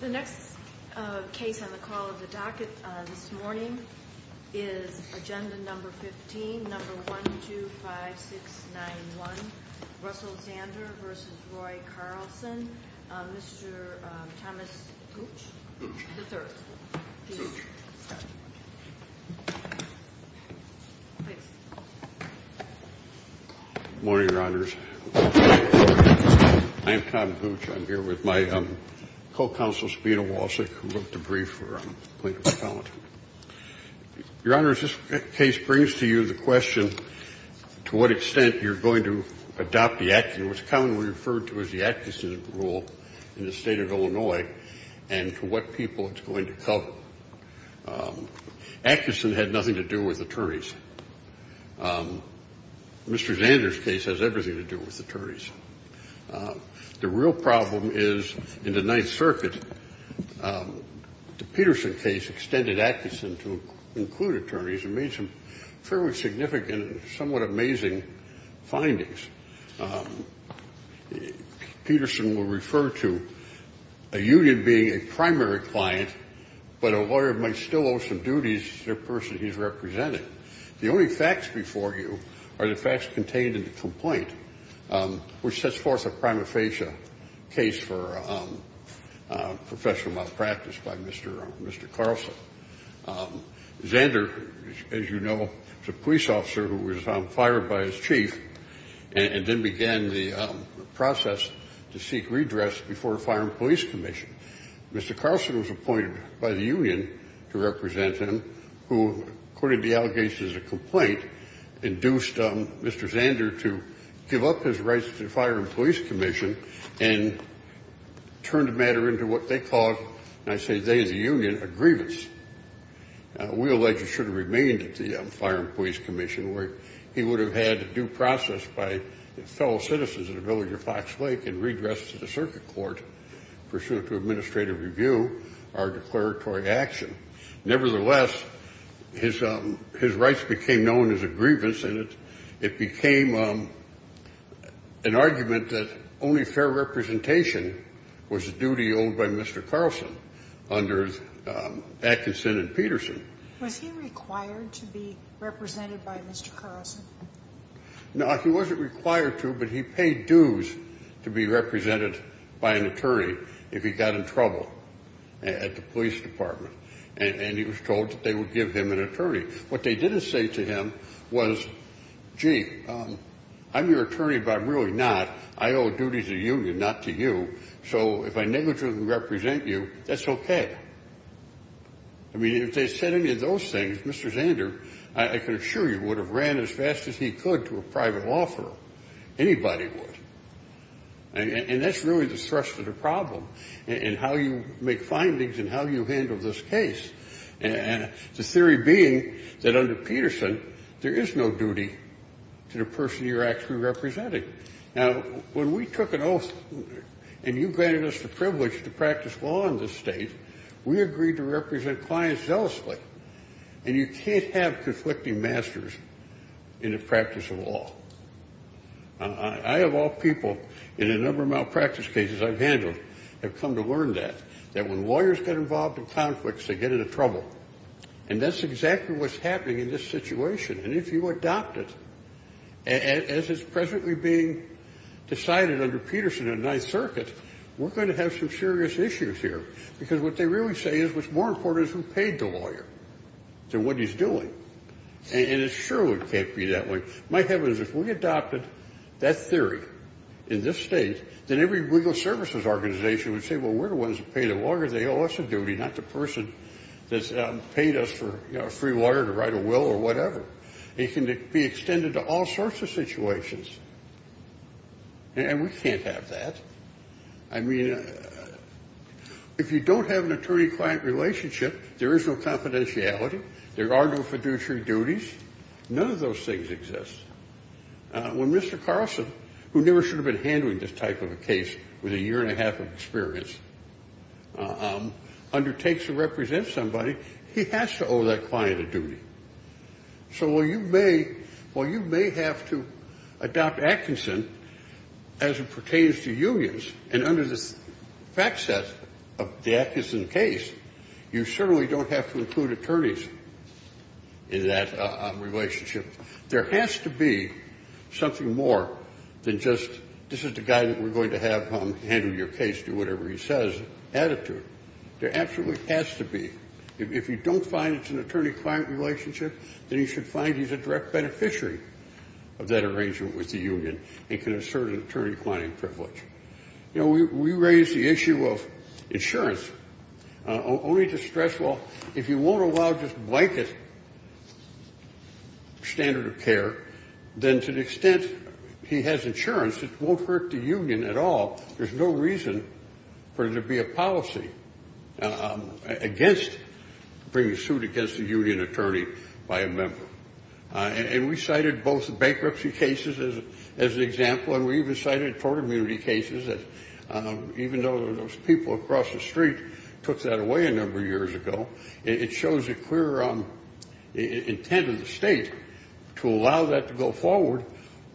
The next case on the call of the docket this morning is Agenda No. 15, No. 125691, Russell Zander v. Roy Carlson, Mr. Thomas Hooch III. Good morning, Your Honors. I'm Tom Hooch. I'm here with my co-counsel, Sabina Walsh, who wrote the brief for plaintiff's account. Your Honors, this case brings to you the question, to what extent you're going to adopt the action, what's commonly referred to as the action rule in the State of Illinois, and to what people it's going to cover. Atkinson had nothing to do with attorneys. Mr. Zander's case has everything to do with attorneys. The real problem is, in the Ninth Circuit, the Peterson case extended Atkinson to include attorneys and made some fairly significant and somewhat amazing findings. Peterson will refer to a union being a primary client, but a lawyer might still owe some duties to the person he's representing. The only facts before you are the facts contained in the complaint, which sets forth a prima facie case for professional malpractice by Mr. Carlson. Zander, as you know, is a police officer who was fired by his chief and then began the process to seek redress before a fire and police commission. Mr. Carlson was appointed by the union to represent him, who, according to the allegations of the complaint, induced Mr. Zander to give up his rights to the fire and police commission and turn the matter into what they called, and I say they, the union, a grievance. We allege he should have remained at the fire and police commission where he would have had due process by fellow citizens of the village of Fox Lake and redressed to the circuit court pursuant to administrative review our declaratory action. Nevertheless, his rights became known as a grievance, and it became an argument that only fair representation was a duty owed by Mr. Carlson under Atkinson and Peterson. Now, he wasn't required to, but he paid dues to be represented by an attorney if he got in trouble at the police department, and he was told that they would give him an attorney. What they didn't say to him was, gee, I'm your attorney, but I'm really not. I owe a duty to the union, not to you. So if I negligently represent you, that's okay. I mean, if they said any of those things, Mr. Zander, I can assure you, would have ran as fast as he could to a private law firm. Anybody would. And that's really the thrust of the problem in how you make findings and how you handle this case. And the theory being that under Peterson, there is no duty to the person you're actually representing. Now, when we took an oath and you granted us the privilege to practice law in this state, we agreed to represent clients zealously, and you can't have conflicting masters in the practice of law. I, of all people in a number of malpractice cases I've handled, have come to learn that, that when lawyers get involved in conflicts, they get into trouble. And that's exactly what's happening in this situation. And if you adopt it, as is presently being decided under Peterson in the Ninth Circuit, we're going to have some serious issues here. Because what they really say is what's more important is who paid the lawyer to what he's doing. And it surely can't be that way. My heavens, if we adopted that theory in this state, then every legal services organization would say, well, we're the ones who pay the lawyer. They owe us a duty, not the person that's paid us for free water to write a will or whatever. It can be extended to all sorts of situations. And we can't have that. I mean, if you don't have an attorney-client relationship, there is no confidentiality. There are no fiduciary duties. None of those things exist. When Mr. Carlson, who never should have been handling this type of a case with a year and a half of experience, undertakes to represent somebody, he has to owe that client a duty. So while you may have to adopt Atkinson as it pertains to unions, and under the fact set of the Atkinson case, you certainly don't have to include attorneys in that relationship. There has to be something more than just this is the guy that we're going to have handle your case, do whatever he says attitude. There absolutely has to be. If you don't find it's an attorney-client relationship, then you should find he's a direct beneficiary of that arrangement with the union and can assert an attorney-client privilege. You know, we raise the issue of insurance only to stress, well, if you won't allow just blanket standard of care, then to the extent he has insurance, it won't hurt the union at all. There's no reason for there to be a policy against bringing a suit against a union attorney by a member. And we cited both bankruptcy cases as an example, and we even cited tort immunity cases. Even though those people across the street took that away a number of years ago, it shows a clear intent of the state to allow that to go forward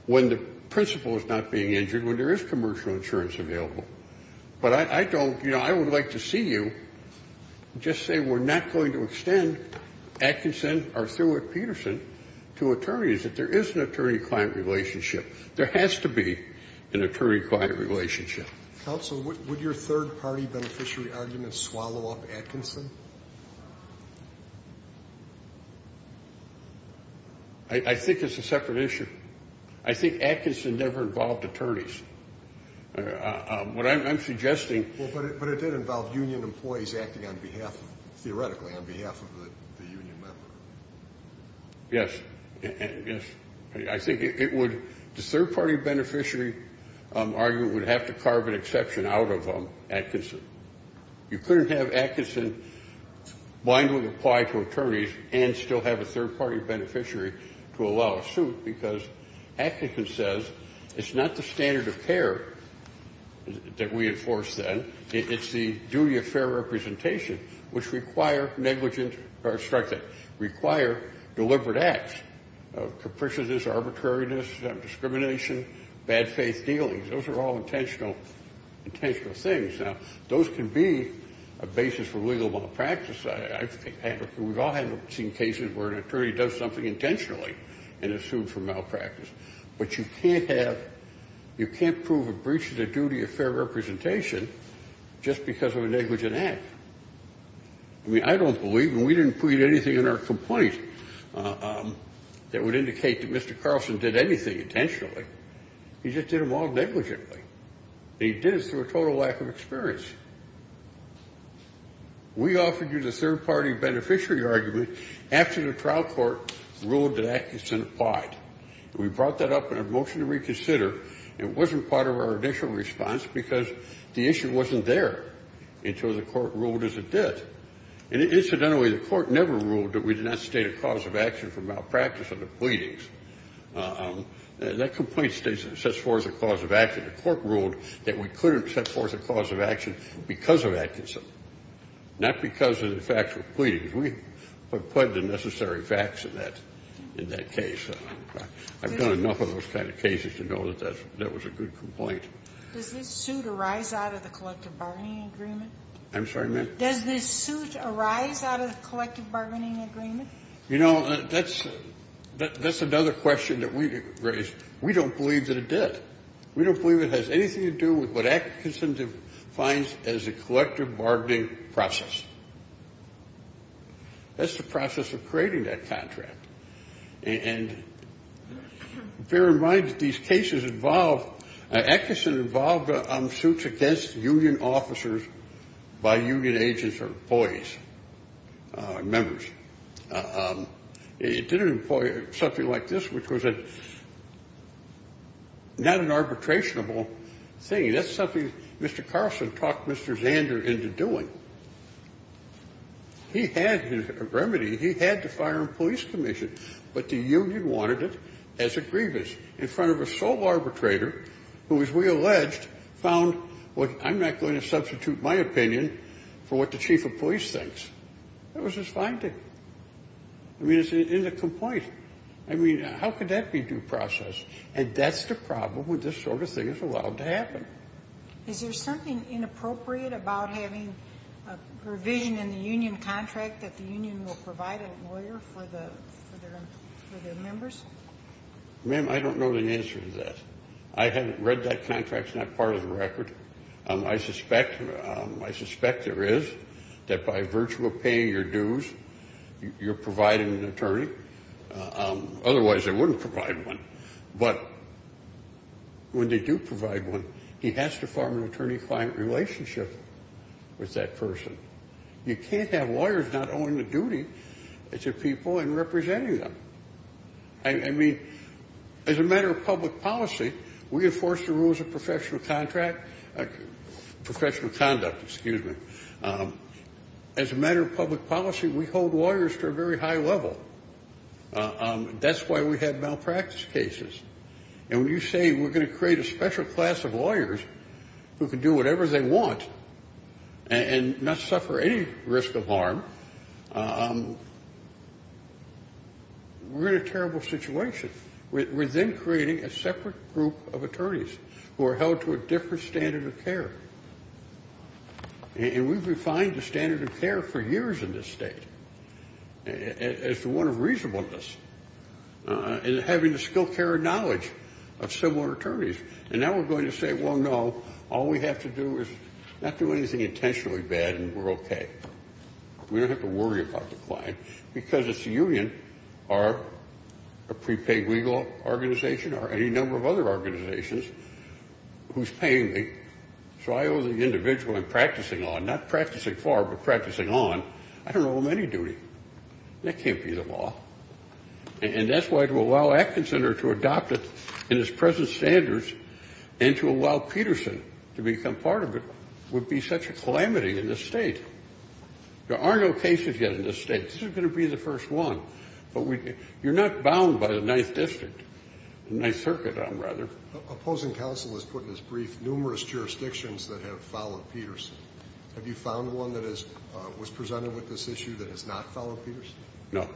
when the principal is not being injured, when there is commercial insurance available. But I don't, you know, I would like to see you just say we're not going to extend Atkinson or Thurwood-Peterson to attorneys if there is an attorney-client relationship. There has to be an attorney-client relationship. Counsel, would your third-party beneficiary argument swallow up Atkinson? I think it's a separate issue. I think Atkinson never involved attorneys. What I'm suggesting But it did involve union employees acting on behalf, theoretically, on behalf of the union member. Yes. Yes. I think it would the third-party beneficiary argument would have to carve an exception out of Atkinson. You couldn't have Atkinson blindly apply to attorneys and still have a third-party beneficiary to allow a suit because Atkinson says it's not the standard of care that we enforce then. It's the duty of fair representation, which require negligent or instructive, require deliberate acts, capriciousness, arbitrariness, discrimination, bad faith dealings. Those are all intentional things. Now, those can be a basis for legal malpractice. We've all seen cases where an attorney does something intentionally in a suit for malpractice. But you can't have you can't prove a breach of the duty of fair representation just because of a negligent act. I mean, I don't believe, and we didn't put anything in our complaint that would indicate that Mr. Carlson did anything intentionally. He just did them all negligently. He did it through a total lack of experience. We offered you the third-party beneficiary argument after the trial court ruled that Atkinson applied. We brought that up in a motion to reconsider. It wasn't part of our initial response because the issue wasn't there until the court ruled as it did. And incidentally, the court never ruled that we did not state a cause of action for malpractice under pleadings. That complaint states it sets forth a cause of action. The court ruled that we couldn't set forth a cause of action because of Atkinson, not because of the factual pleadings. We put the necessary facts in that case. I've done enough of those kind of cases to know that that was a good complaint. Does this suit arise out of the collective bargaining agreement? I'm sorry, ma'am? Does this suit arise out of the collective bargaining agreement? You know, that's another question that we raised. We don't believe that it did. We don't believe it has anything to do with what Atkinson defines as a collective bargaining process. That's the process of creating that contract. And bear in mind that these cases involve ‑‑ Atkinson involved suits against union officers by union agents or employees, members. It didn't employ something like this, which was not an arbitrationable thing. That's something Mr. Carlson talked Mr. Zander into doing. He had a remedy. He had to fire a police commission, but the union wanted it as a grievance in front of a sole arbitrator who, as we alleged, found, well, I'm not going to substitute my opinion for what the chief of police thinks. That was his finding. I mean, it's in the complaint. I mean, how could that be due process? And that's the problem when this sort of thing is allowed to happen. Is there something inappropriate about having a revision in the union contract that the union will provide a lawyer for their members? Ma'am, I don't know the answer to that. I haven't read that contract. It's not part of the record. I suspect there is, that by virtue of paying your dues, you're providing an attorney. Otherwise, they wouldn't provide one. But when they do provide one, he has to form an attorney-client relationship with that person. You can't have lawyers not owing the duty to people and representing them. I mean, as a matter of public policy, we enforce the rules of professional contract, professional conduct, excuse me. As a matter of public policy, we hold lawyers to a very high level. That's why we have malpractice cases. And when you say we're going to create a special class of lawyers who can do whatever they want and not suffer any risk of harm, we're in a terrible situation. We're then creating a separate group of attorneys who are held to a different standard of care. And we've refined the standard of care for years in this state as the one of reasonableness and having the skill, care, and knowledge of similar attorneys. And now we're going to say, well, no, all we have to do is not do anything intentionally bad and we're okay. We don't have to worry about the client because it's the union or a prepaid legal organization or any number of other organizations who's paying me. So I owe the individual I'm practicing on, not practicing for but practicing on, I don't owe him any duty. That can't be the law. And that's why to allow Atkinson or to adopt it in its present standards and to allow Peterson to become part of it would be such a calamity in this state. There are no cases yet in this state. This is going to be the first one. But you're not bound by the Ninth District, the Ninth Circuit, I'm rather. Opposing counsel has put in his brief numerous jurisdictions that have followed Peterson. Have you found one that was presented with this issue that has not followed Peterson? No.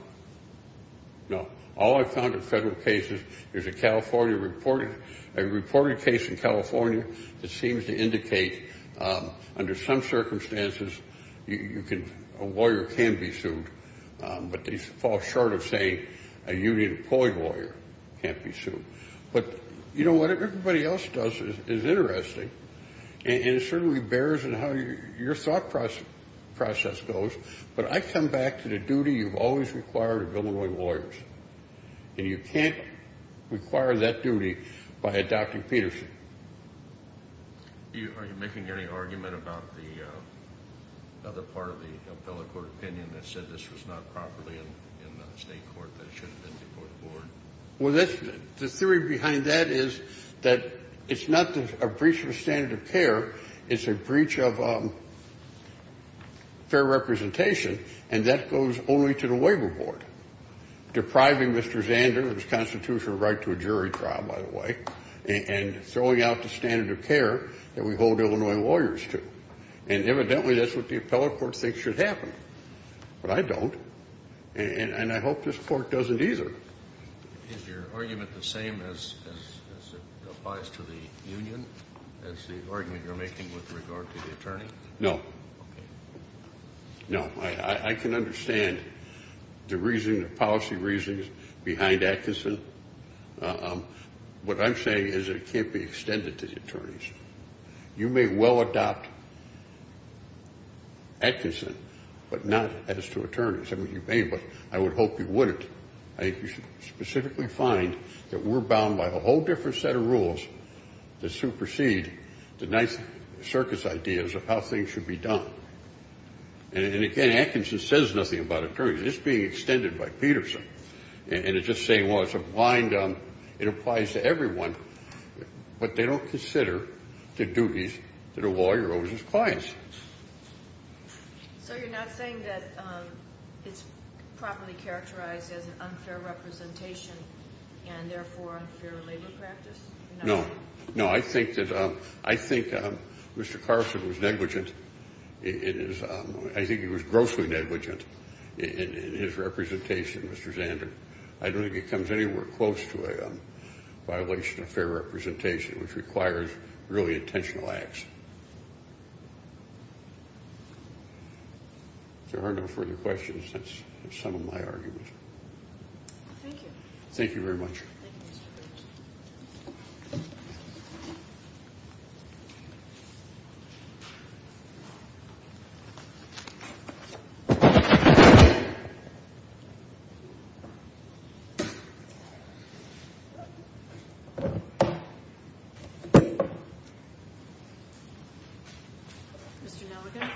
No. All I've found in federal cases is a California reported case in California that seems to indicate under some circumstances a lawyer can be sued, but they fall short of saying a union-employed lawyer can't be sued. But, you know, what everybody else does is interesting, and it certainly bears in how your thought process goes, but I come back to the duty you've always required of Illinois lawyers, and you can't require that duty by adopting Peterson. Are you making any argument about the other part of the appellate court opinion that said this was not properly in the state court that it should have been before the board? Well, the theory behind that is that it's not a breach of standard of care, it's a breach of fair representation, and that goes only to the labor board, depriving Mr. Zander of his constitutional right to a jury trial, by the way, and throwing out the standard of care that we hold Illinois lawyers to. And evidently that's what the appellate court thinks should happen. But I don't. And I hope this court doesn't either. Is your argument the same as it applies to the union as the argument you're making with regard to the attorney? No. Okay. No. I can understand the reason, the policy reasons behind Atkinson. What I'm saying is that it can't be extended to the attorneys. You may well adopt Atkinson, but not as to attorneys. I mean, you may, but I would hope you wouldn't. I think you should specifically find that we're bound by a whole different set of rules to supersede the nice circus ideas of how things should be done. And, again, Atkinson says nothing about attorneys. It's being extended by Peterson. And it's just saying, well, it's a blind, it applies to everyone, but they don't consider the duties that a lawyer owes his clients. So you're not saying that it's properly characterized as an unfair representation and, therefore, unfair labor practice? No. No, I think that Mr. Carson was negligent. I think he was grossly negligent in his representation, Mr. Zander. I don't think it comes anywhere close to a violation of fair representation, which requires really intentional acts. If there are no further questions, that's the sum of my arguments. Thank you. Thank you very much. Thank you, Mr. Gersh. Mr. Nelligan.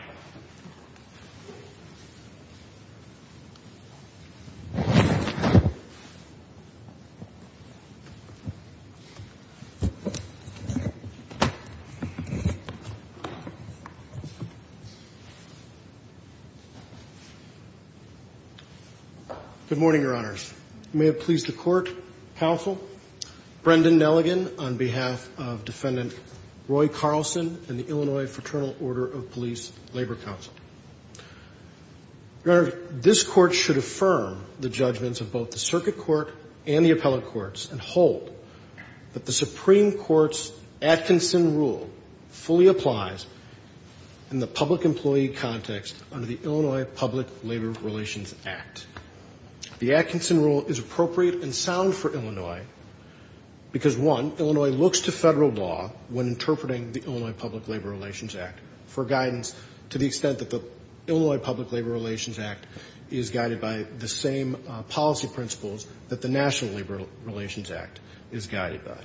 Good morning, Your Honors. May it please the Court, counsel, Brendan Nelligan on behalf of Defendant Roy Carlson and the Illinois Fraternal Order of Police Labor Council. Your Honor, this Court should affirm the judgments of both the Circuit Court and the appellate courts and hold that the Supreme Court's Atkinson Rule fully applies in the public employee context under the Illinois Public Labor Relations Act. The Atkinson Rule is appropriate and sound for Illinois because, one, Illinois looks to federal law when interpreting the Illinois Public Labor Relations Act for guidance to the extent that the Illinois Public Labor Relations Act is guided by the same policy principles that the National Labor Relations Act is guided by.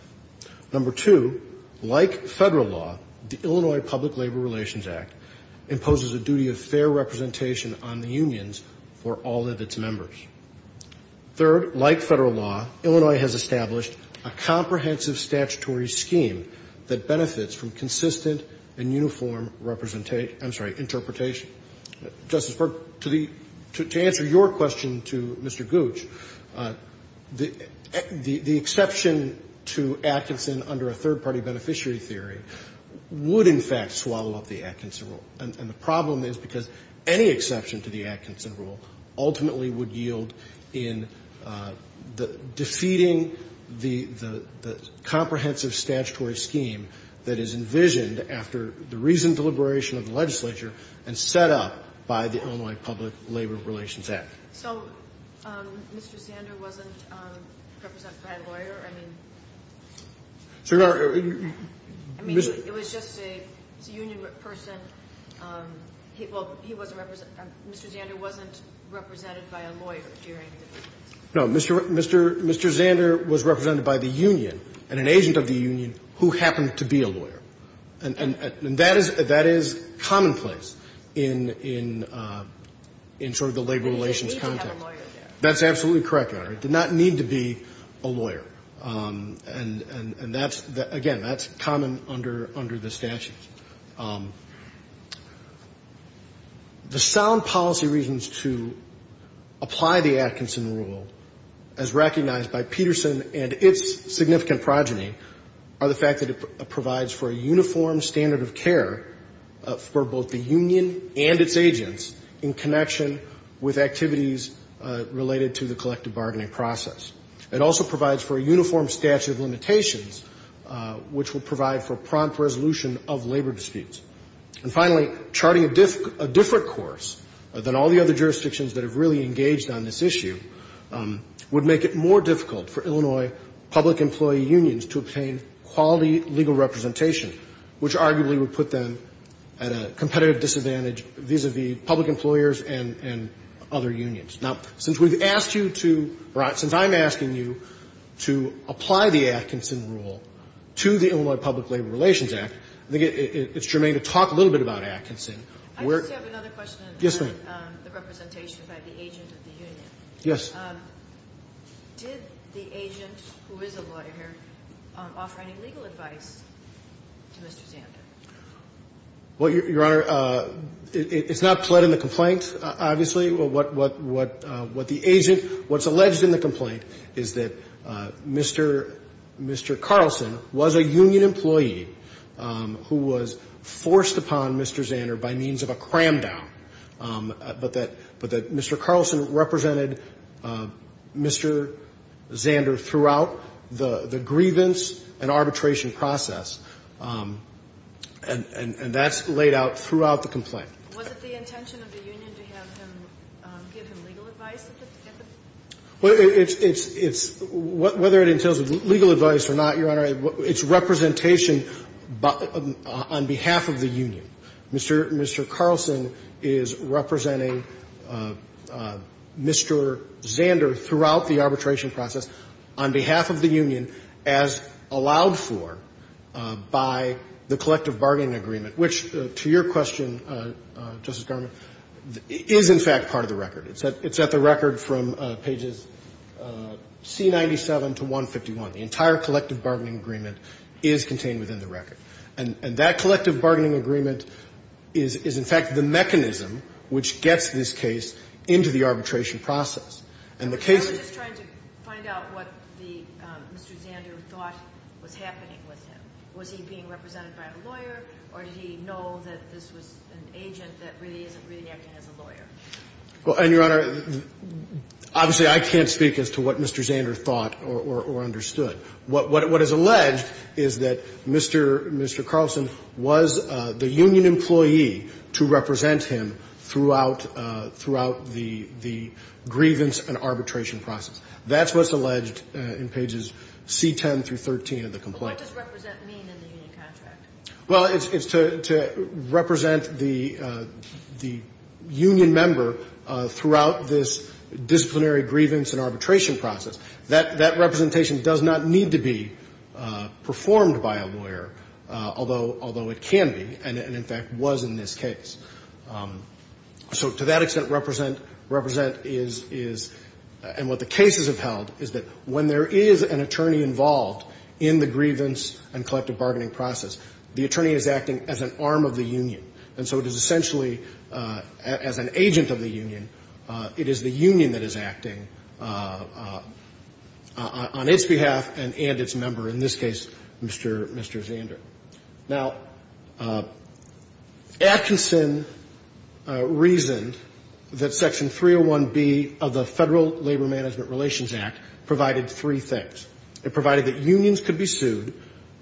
Number two, like federal law, the Illinois Public Labor Relations Act imposes a duty of fair representation on the unions for all of its members. Third, like federal law, Illinois has established a comprehensive statutory scheme that benefits from consistent and uniform representation — I'm sorry, interpretation. Justice Berk, to answer your question to Mr. Gooch, the exception to Atkinson under a third-party beneficiary theory would, in fact, swallow up the Atkinson Rule. And the problem is because any exception to the Atkinson Rule ultimately would yield in defeating the comprehensive statutory scheme that is envisioned after the recent deliberation of the legislature and set up by the Illinois Public Labor Relations Act. So Mr. Zander wasn't represented by a lawyer? I mean, it was just a union person. Well, he wasn't represented — Mr. Zander wasn't represented by a lawyer during the debate? No. Mr. Zander was represented by the union and an agent of the union who happened to be a lawyer. And that is commonplace in sort of the labor relations context. But he didn't need to have a lawyer there. That's absolutely correct, Your Honor. He did not need to be a lawyer. And that's, again, that's common under the statute. The sound policy reasons to apply the Atkinson Rule, as recognized by Peterson and its significant progeny, are the fact that it provides for a uniform standard of care for both the union and its agents in connection with activities related to the collective bargaining process. It also provides for a uniform statute of limitations, which will provide for prompt resolution of labor disputes. And finally, charting a different course than all the other jurisdictions that have really engaged on this issue would make it more difficult for Illinois public employee unions to obtain quality legal representation, which arguably would put them at a competitive disadvantage vis-à-vis public employers and other unions. Now, since we've asked you to — or since I'm asking you to apply the Atkinson Rule to the Illinois Public Labor Relations Act, I think it's germane to talk a little bit about Atkinson. I just have another question about the representation by the agent of the union. Yes. Did the agent, who is a lawyer, offer any legal advice to Mr. Zander? Well, Your Honor, it's not pled in the complaint, obviously. What the agent — what's alleged in the complaint is that Mr. Carlson was a union employee who was forced upon Mr. Zander by means of a cram-down, but that Mr. Carlson represented Mr. Zander throughout the grievance and arbitration process. And that's laid out throughout the complaint. Was it the intention of the union to have him give him legal advice? Well, it's — whether it entails legal advice or not, Your Honor, it's representation on behalf of the union. Mr. Carlson is representing Mr. Zander throughout the arbitration process on behalf of the union as allowed for by the collective bargaining agreement, which, to your question, Justice Garment, is in fact part of the record. It's at the record from pages C97 to 151. The entire collective bargaining agreement is contained within the record. And that collective bargaining agreement is, in fact, the mechanism which gets this case into the arbitration process. And the case is — I was just trying to find out what the — Mr. Zander thought was happening with him. Was he being represented by a lawyer, or did he know that this was an agent that really isn't really acting as a lawyer? Well, and, Your Honor, obviously, I can't speak as to what Mr. Zander thought or understood. What is alleged is that Mr. Carlson was the union employee to represent him throughout the grievance and arbitration process. That's what's alleged in pages C10 through 13 of the complaint. But what does represent mean in the union contract? Well, it's to represent the union member throughout this disciplinary grievance and arbitration process. That representation does not need to be performed by a lawyer, although it can be and, in fact, was in this case. So to that extent, represent is — and what the cases have held is that when there is an attorney involved in the grievance and collective bargaining process, the attorney is acting as an arm of the union. And so it is essentially, as an agent of the union, it is the union that is acting on its behalf and its member, in this case, Mr. Zander. Now, Atkinson reasoned that Section 301B of the Federal Labor Management Relations Act provided three things. It provided that unions could be sued,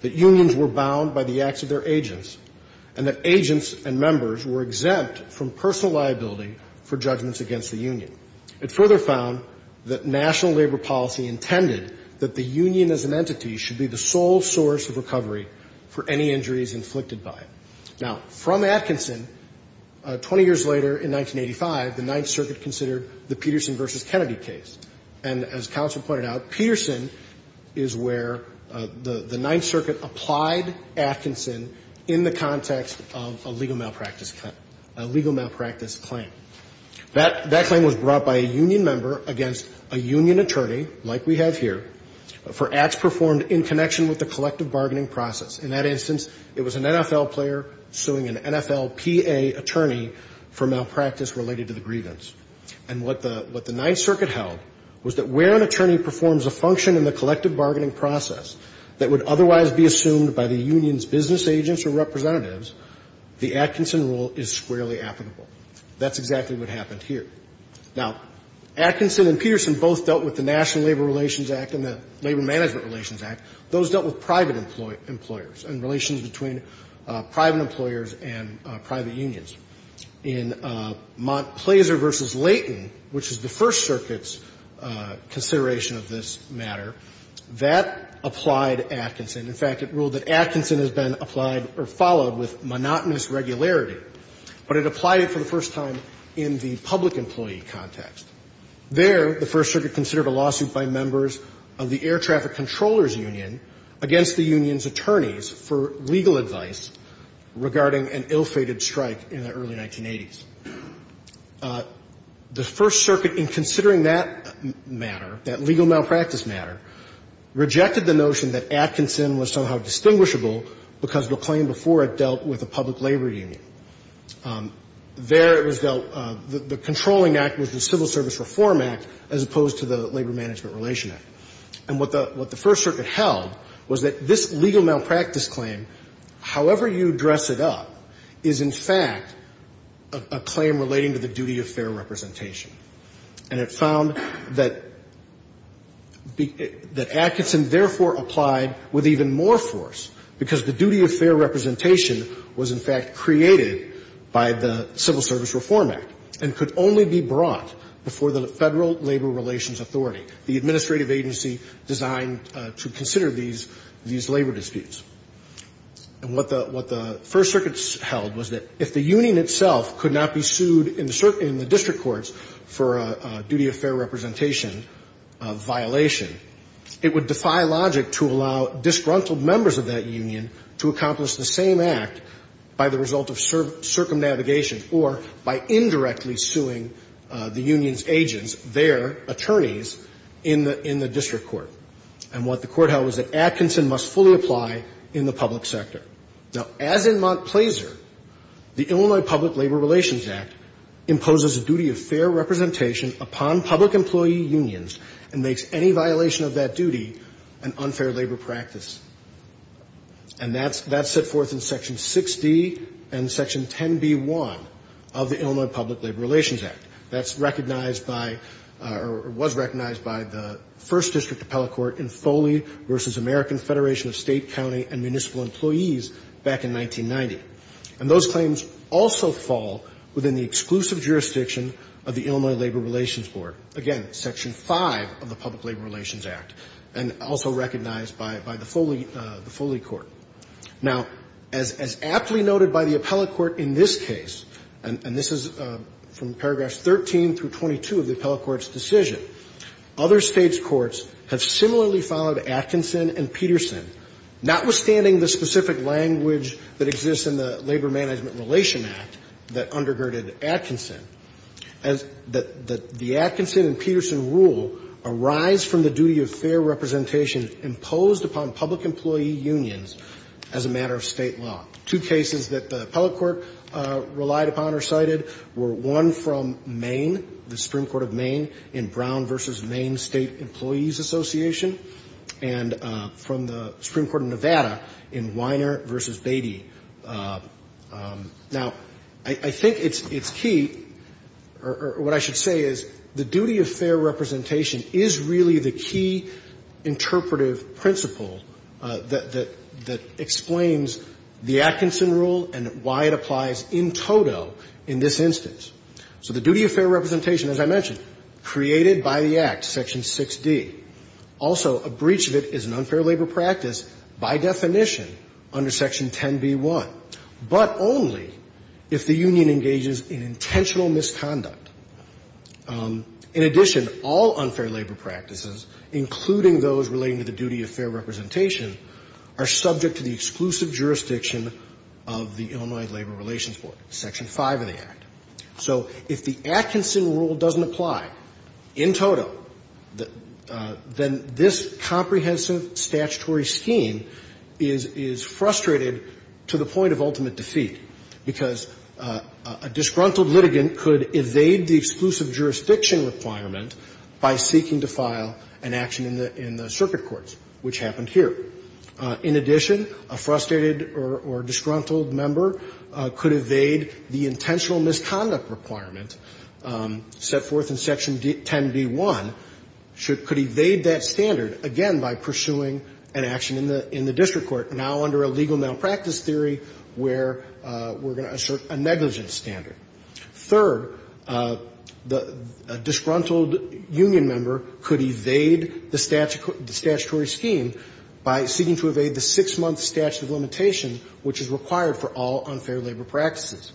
that unions were bound by the acts of their agents, and that agents and members were exempt from personal liability for judgments against the union. It further found that national labor policy intended that the union as an entity should be the sole source of recovery for any injuries inflicted by it. Now, from Atkinson, 20 years later in 1985, the Ninth Circuit considered the Peterson v. Kennedy case. And as counsel pointed out, Peterson is where the Ninth Circuit applied Atkinson in the context of a legal malpractice claim. That claim was brought by a union member against a union attorney, like we have here, for acts performed in connection with the collective bargaining process. In that instance, it was an NFL player suing an NFLPA attorney for malpractice related to the grievance. And what the Ninth Circuit held was that where an attorney performs a function in the collective bargaining process that would otherwise be assumed by the union's business agents or representatives, the Atkinson rule is squarely applicable. That's exactly what happened here. Now, Atkinson and Peterson both dealt with the National Labor Relations Act and the Labor Management Relations Act. Those dealt with private employers and relations between private employers and private unions. In Montplaisir v. Layton, which is the First Circuit's consideration of this matter, that applied Atkinson. In fact, it ruled that Atkinson has been applied or followed with monotonous regularity, but it applied it for the first time in the public employee context. There, the First Circuit considered a lawsuit by members of the Air Traffic Controllers Union against the union's attorneys for legal advice regarding an ill-fated strike in the early 1980s. The First Circuit, in considering that matter, that legal malpractice matter, rejected the notion that Atkinson was somehow distinguishable because the claim before it dealt with a public labor union. There, it was dealt the controlling act was the Civil Service Reform Act as opposed to the Labor Management Relation Act. And what the First Circuit held was that this legal malpractice claim, however you dress it up, is in fact a claim relating to the duty of fair representation. And it found that Atkinson therefore applied with even more force because the duty of fair representation was, in fact, created by the Civil Service Reform Act and could only be brought before the Federal Labor Relations Authority, the administrative agency designed to consider these labor disputes. And what the First Circuit held was that if the union itself could not be sued in the district courts for a duty of fair representation violation, it would defy logic to allow disgruntled members of that union to accomplish the same act by the result of circumnavigation or by indirectly suing the union's agents, their attorneys, in the district court. And what the court held was that Atkinson must fully apply in the public sector. Now, as in Montplaisir, the Illinois Public Labor Relations Act imposes a duty of fair representation upon public employee unions and makes any violation of that duty an unfair labor practice. And that's set forth in Section 6d and Section 10b-1 of the Illinois Public Labor Relations Act. That's recognized by or was recognized by the First District Appellate Court in Foley v. American Federation of State, County, and Municipal Employees back in 1990. And those claims also fall within the exclusive jurisdiction of the Illinois Labor Relations Board, again, Section 5 of the Public Labor Relations Act, and also recognized by the Foley Court. Now, as aptly noted by the appellate court in this case, and this is from paragraphs 13 through 22 of the appellate court's decision, other States' courts have similarly followed Atkinson and Peterson, notwithstanding the specific language that exists in the Labor Management Relation Act that undergirded Atkinson, that the Atkinson and Peterson rule arise from the duty of fair representation imposed upon public employee unions as a matter of State law. Two cases that the appellate court relied upon or cited were one from Maine, the Supreme Court of Maine, in Brown v. Maine State Employees Association, and from the Supreme Court of Nevada in Weiner v. Beatty. Now, I think it's key, or what I should say is the duty of fair representation is really the key interpretive principle that explains the Atkinson rule and why it applies in toto in this instance. So the duty of fair representation, as I mentioned, created by the Act, Section 6d. Also, a breach of it is an unfair labor practice by definition under Section 10b-1, but only if the union engages in intentional misconduct. In addition, all unfair labor practices, including those relating to the duty of fair representation, are subject to the exclusive jurisdiction of the Illinois Labor Relations Board, Section 5 of the Act. So if the Atkinson rule doesn't apply in toto, then this comprehensive statutory scheme is frustrated to the point of ultimate defeat, because a disgruntled litigant could evade the exclusive jurisdiction requirement by seeking to file an action in the circuit courts, which happened here. In addition, a frustrated or disgruntled member could evade the intentional misconduct requirement set forth in Section 10b-1, could evade that standard, again, by pursuing an action in the district court, now under a legal malpractice theory where we're going to assert a negligence standard. Third, a disgruntled union member could evade the statutory scheme by seeking to evade the 6-month statute of limitations, which is required for all unfair labor practices.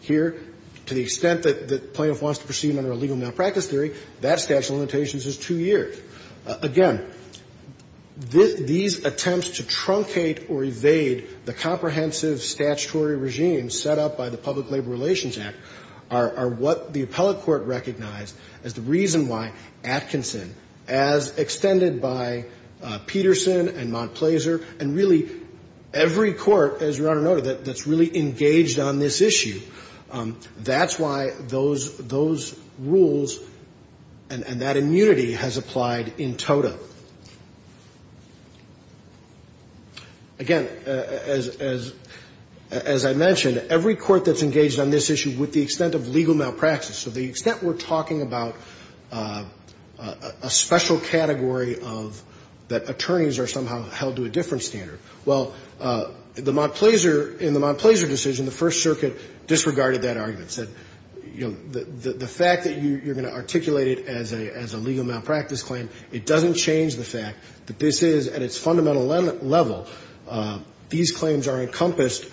Here, to the extent that the plaintiff wants to proceed under a legal malpractice theory, that statute of limitations is 2 years. Again, these attempts to truncate or evade the comprehensive statutory regime set up by the Public Labor Relations Act are what the appellate court recognized as the reason why Atkinson, as extended by Peterson and Montplaisir, and really every court, as Your Honor noted, that's really engaged on this issue, that's why those rules and that immunity has applied in tota. Again, as I mentioned, every court that's engaged on this issue with the extent of legal malpractice, so the extent we're talking about a special category of that attorneys are somehow held to a different standard. Well, the Montplaisir, in the Montplaisir decision, the First Circuit disregarded that argument, said, you know, the fact that you're going to articulate it as a legal malpractice claim, it doesn't change the fact that this is, at its fundamental level, these claims are encompassed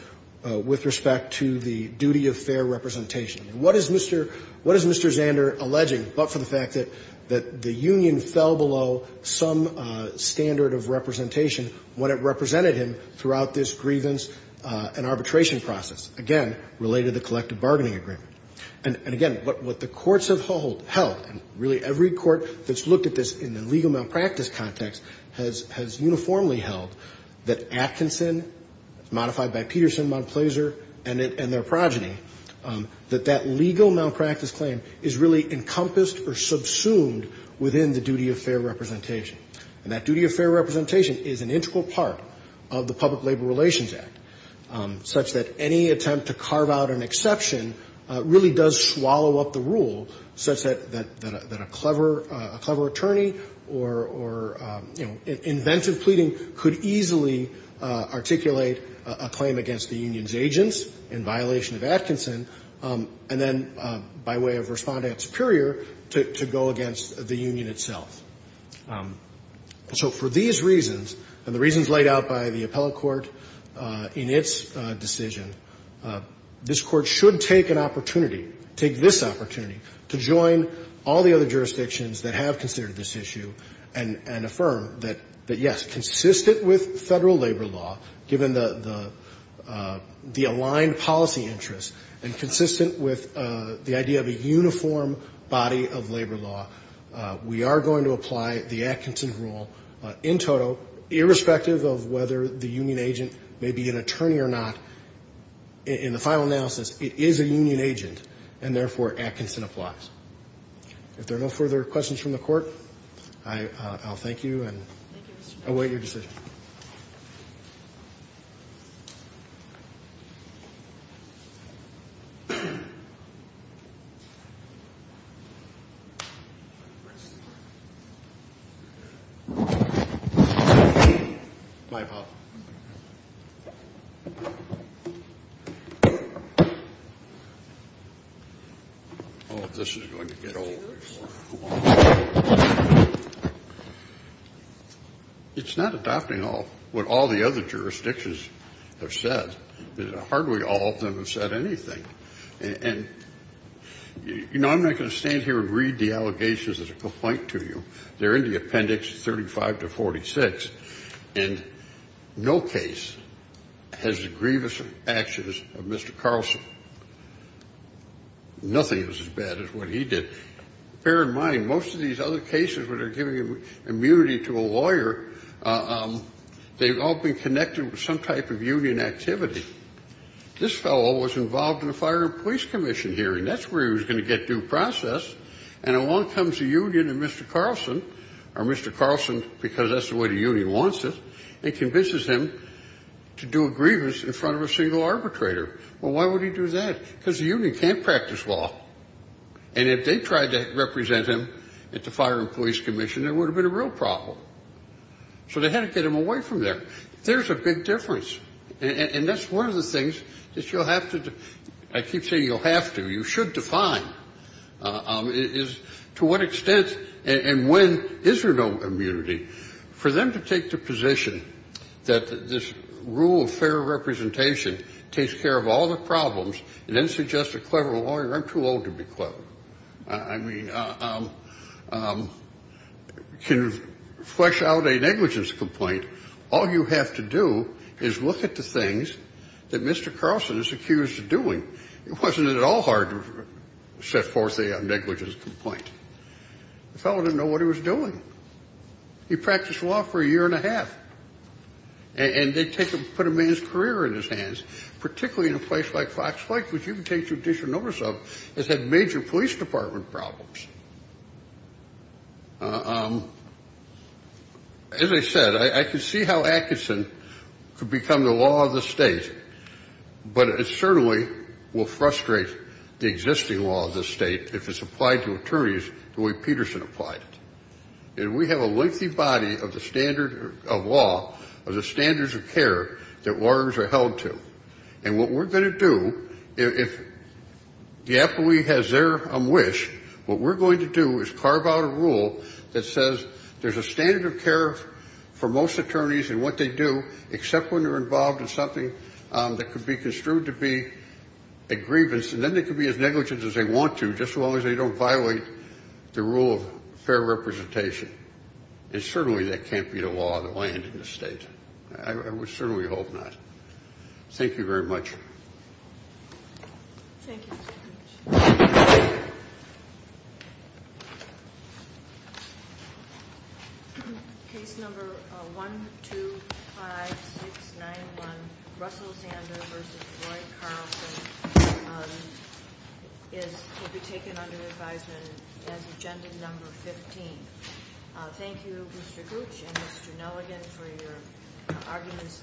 with respect to the duty of fair representation. What is Mr. Zander alleging but for the fact that the union fell below some standard of representation when it represented him throughout this grievance and arbitration process, again, related to the collective bargaining agreement. And again, what the courts have held, and really every court that's looked at this in the legal malpractice context has uniformly held, that Atkinson, modified by Peterson, Montplaisir, and their progeny, that that legal malpractice claim is really encompassed or subsumed within the duty of fair representation. And that duty of fair representation is an integral part of the Public Labor Relations Act, such that any attempt to carve out an exception really does swallow up the rule such that a clever attorney or, you know, inventive pleading could easily articulate a claim against the union's agents in violation of Atkinson, and then by way of responding at Superior to go against the union itself. So for these reasons, and the reasons laid out by the appellate court in its decision, this Court should take an opportunity, take this opportunity to join all the other jurisdictions that have considered this issue and affirm that, yes, consistent with Federal labor law, given the aligned policy interests, and consistent with the idea of a uniform body of labor law, we are going to apply the Atkinson rule in total, irrespective of whether the union agent may be an attorney or not. In the final analysis, it is a union agent, and therefore Atkinson applies. If there are no further questions from the Court, I'll thank you and await your decision. Thank you, Your Honor. Bye, Bob. Oh, this is going to get old. It's not adopting what all the other jurisdictions have said. Hardly all of them have said anything. And, you know, I'm not going to stand here and read the allegations as a complaint to you. They're in the Appendix 35 to 46. And no case has the grievous actions of Mr. Carlson. Nothing is as bad as what he did. Bear in mind, most of these other cases, when they're giving immunity to a lawyer, they've all been connected with some type of union activity. This fellow was involved in a Fire and Police Commission hearing. That's where he was going to get due process. And along comes the union and Mr. Carlson, or Mr. Carlson because that's the way the union wants it, and convinces him to do a grievance in front of a single arbitrator. Well, why would he do that? Because the union can't practice law. And if they tried to represent him at the Fire and Police Commission, there would have been a real problem. So they had to get him away from there. There's a big difference. And that's one of the things that you'll have to do. I keep saying you'll have to. You should define to what extent and when is there no immunity for them to take the position that this rule of fair representation takes care of all the problems and then suggests a clever lawyer. I'm too old to be clever. I mean, can flesh out a negligence complaint. All you have to do is look at the things that Mr. Carlson is accused of doing. It wasn't at all hard to set forth a negligence complaint. The fellow didn't know what he was doing. He practiced law for a year and a half. And they put a man's career in his hands, particularly in a place like Fox Lake, which you can take judicial notice of, has had major police department problems. As I said, I can see how Atkinson could become the law of the state, but it certainly will frustrate the existing law of the state if it's applied to attorneys the way Peterson applied it. And we have a lengthy body of the standard of law, of the standards of care that lawyers are held to. And what we're going to do, if the appellee has their wish, what we're going to do is carve out a rule that says there's a standard of care for most attorneys and what they do, except when they're involved in something that could be construed to be a grievance, and then they can be as negligent as they want to, just as long as they don't violate the rule of fair representation. And certainly that can't be the law of the land in this state. I certainly hope not. Thank you very much. Thank you. Thank you, Mr. Gooch. Case number 125691, Russell Zander v. Roy Carlson, will be taken under advisement as agenda number 15. Thank you, Mr. Gooch and Mr. Nelligan, for your arguments.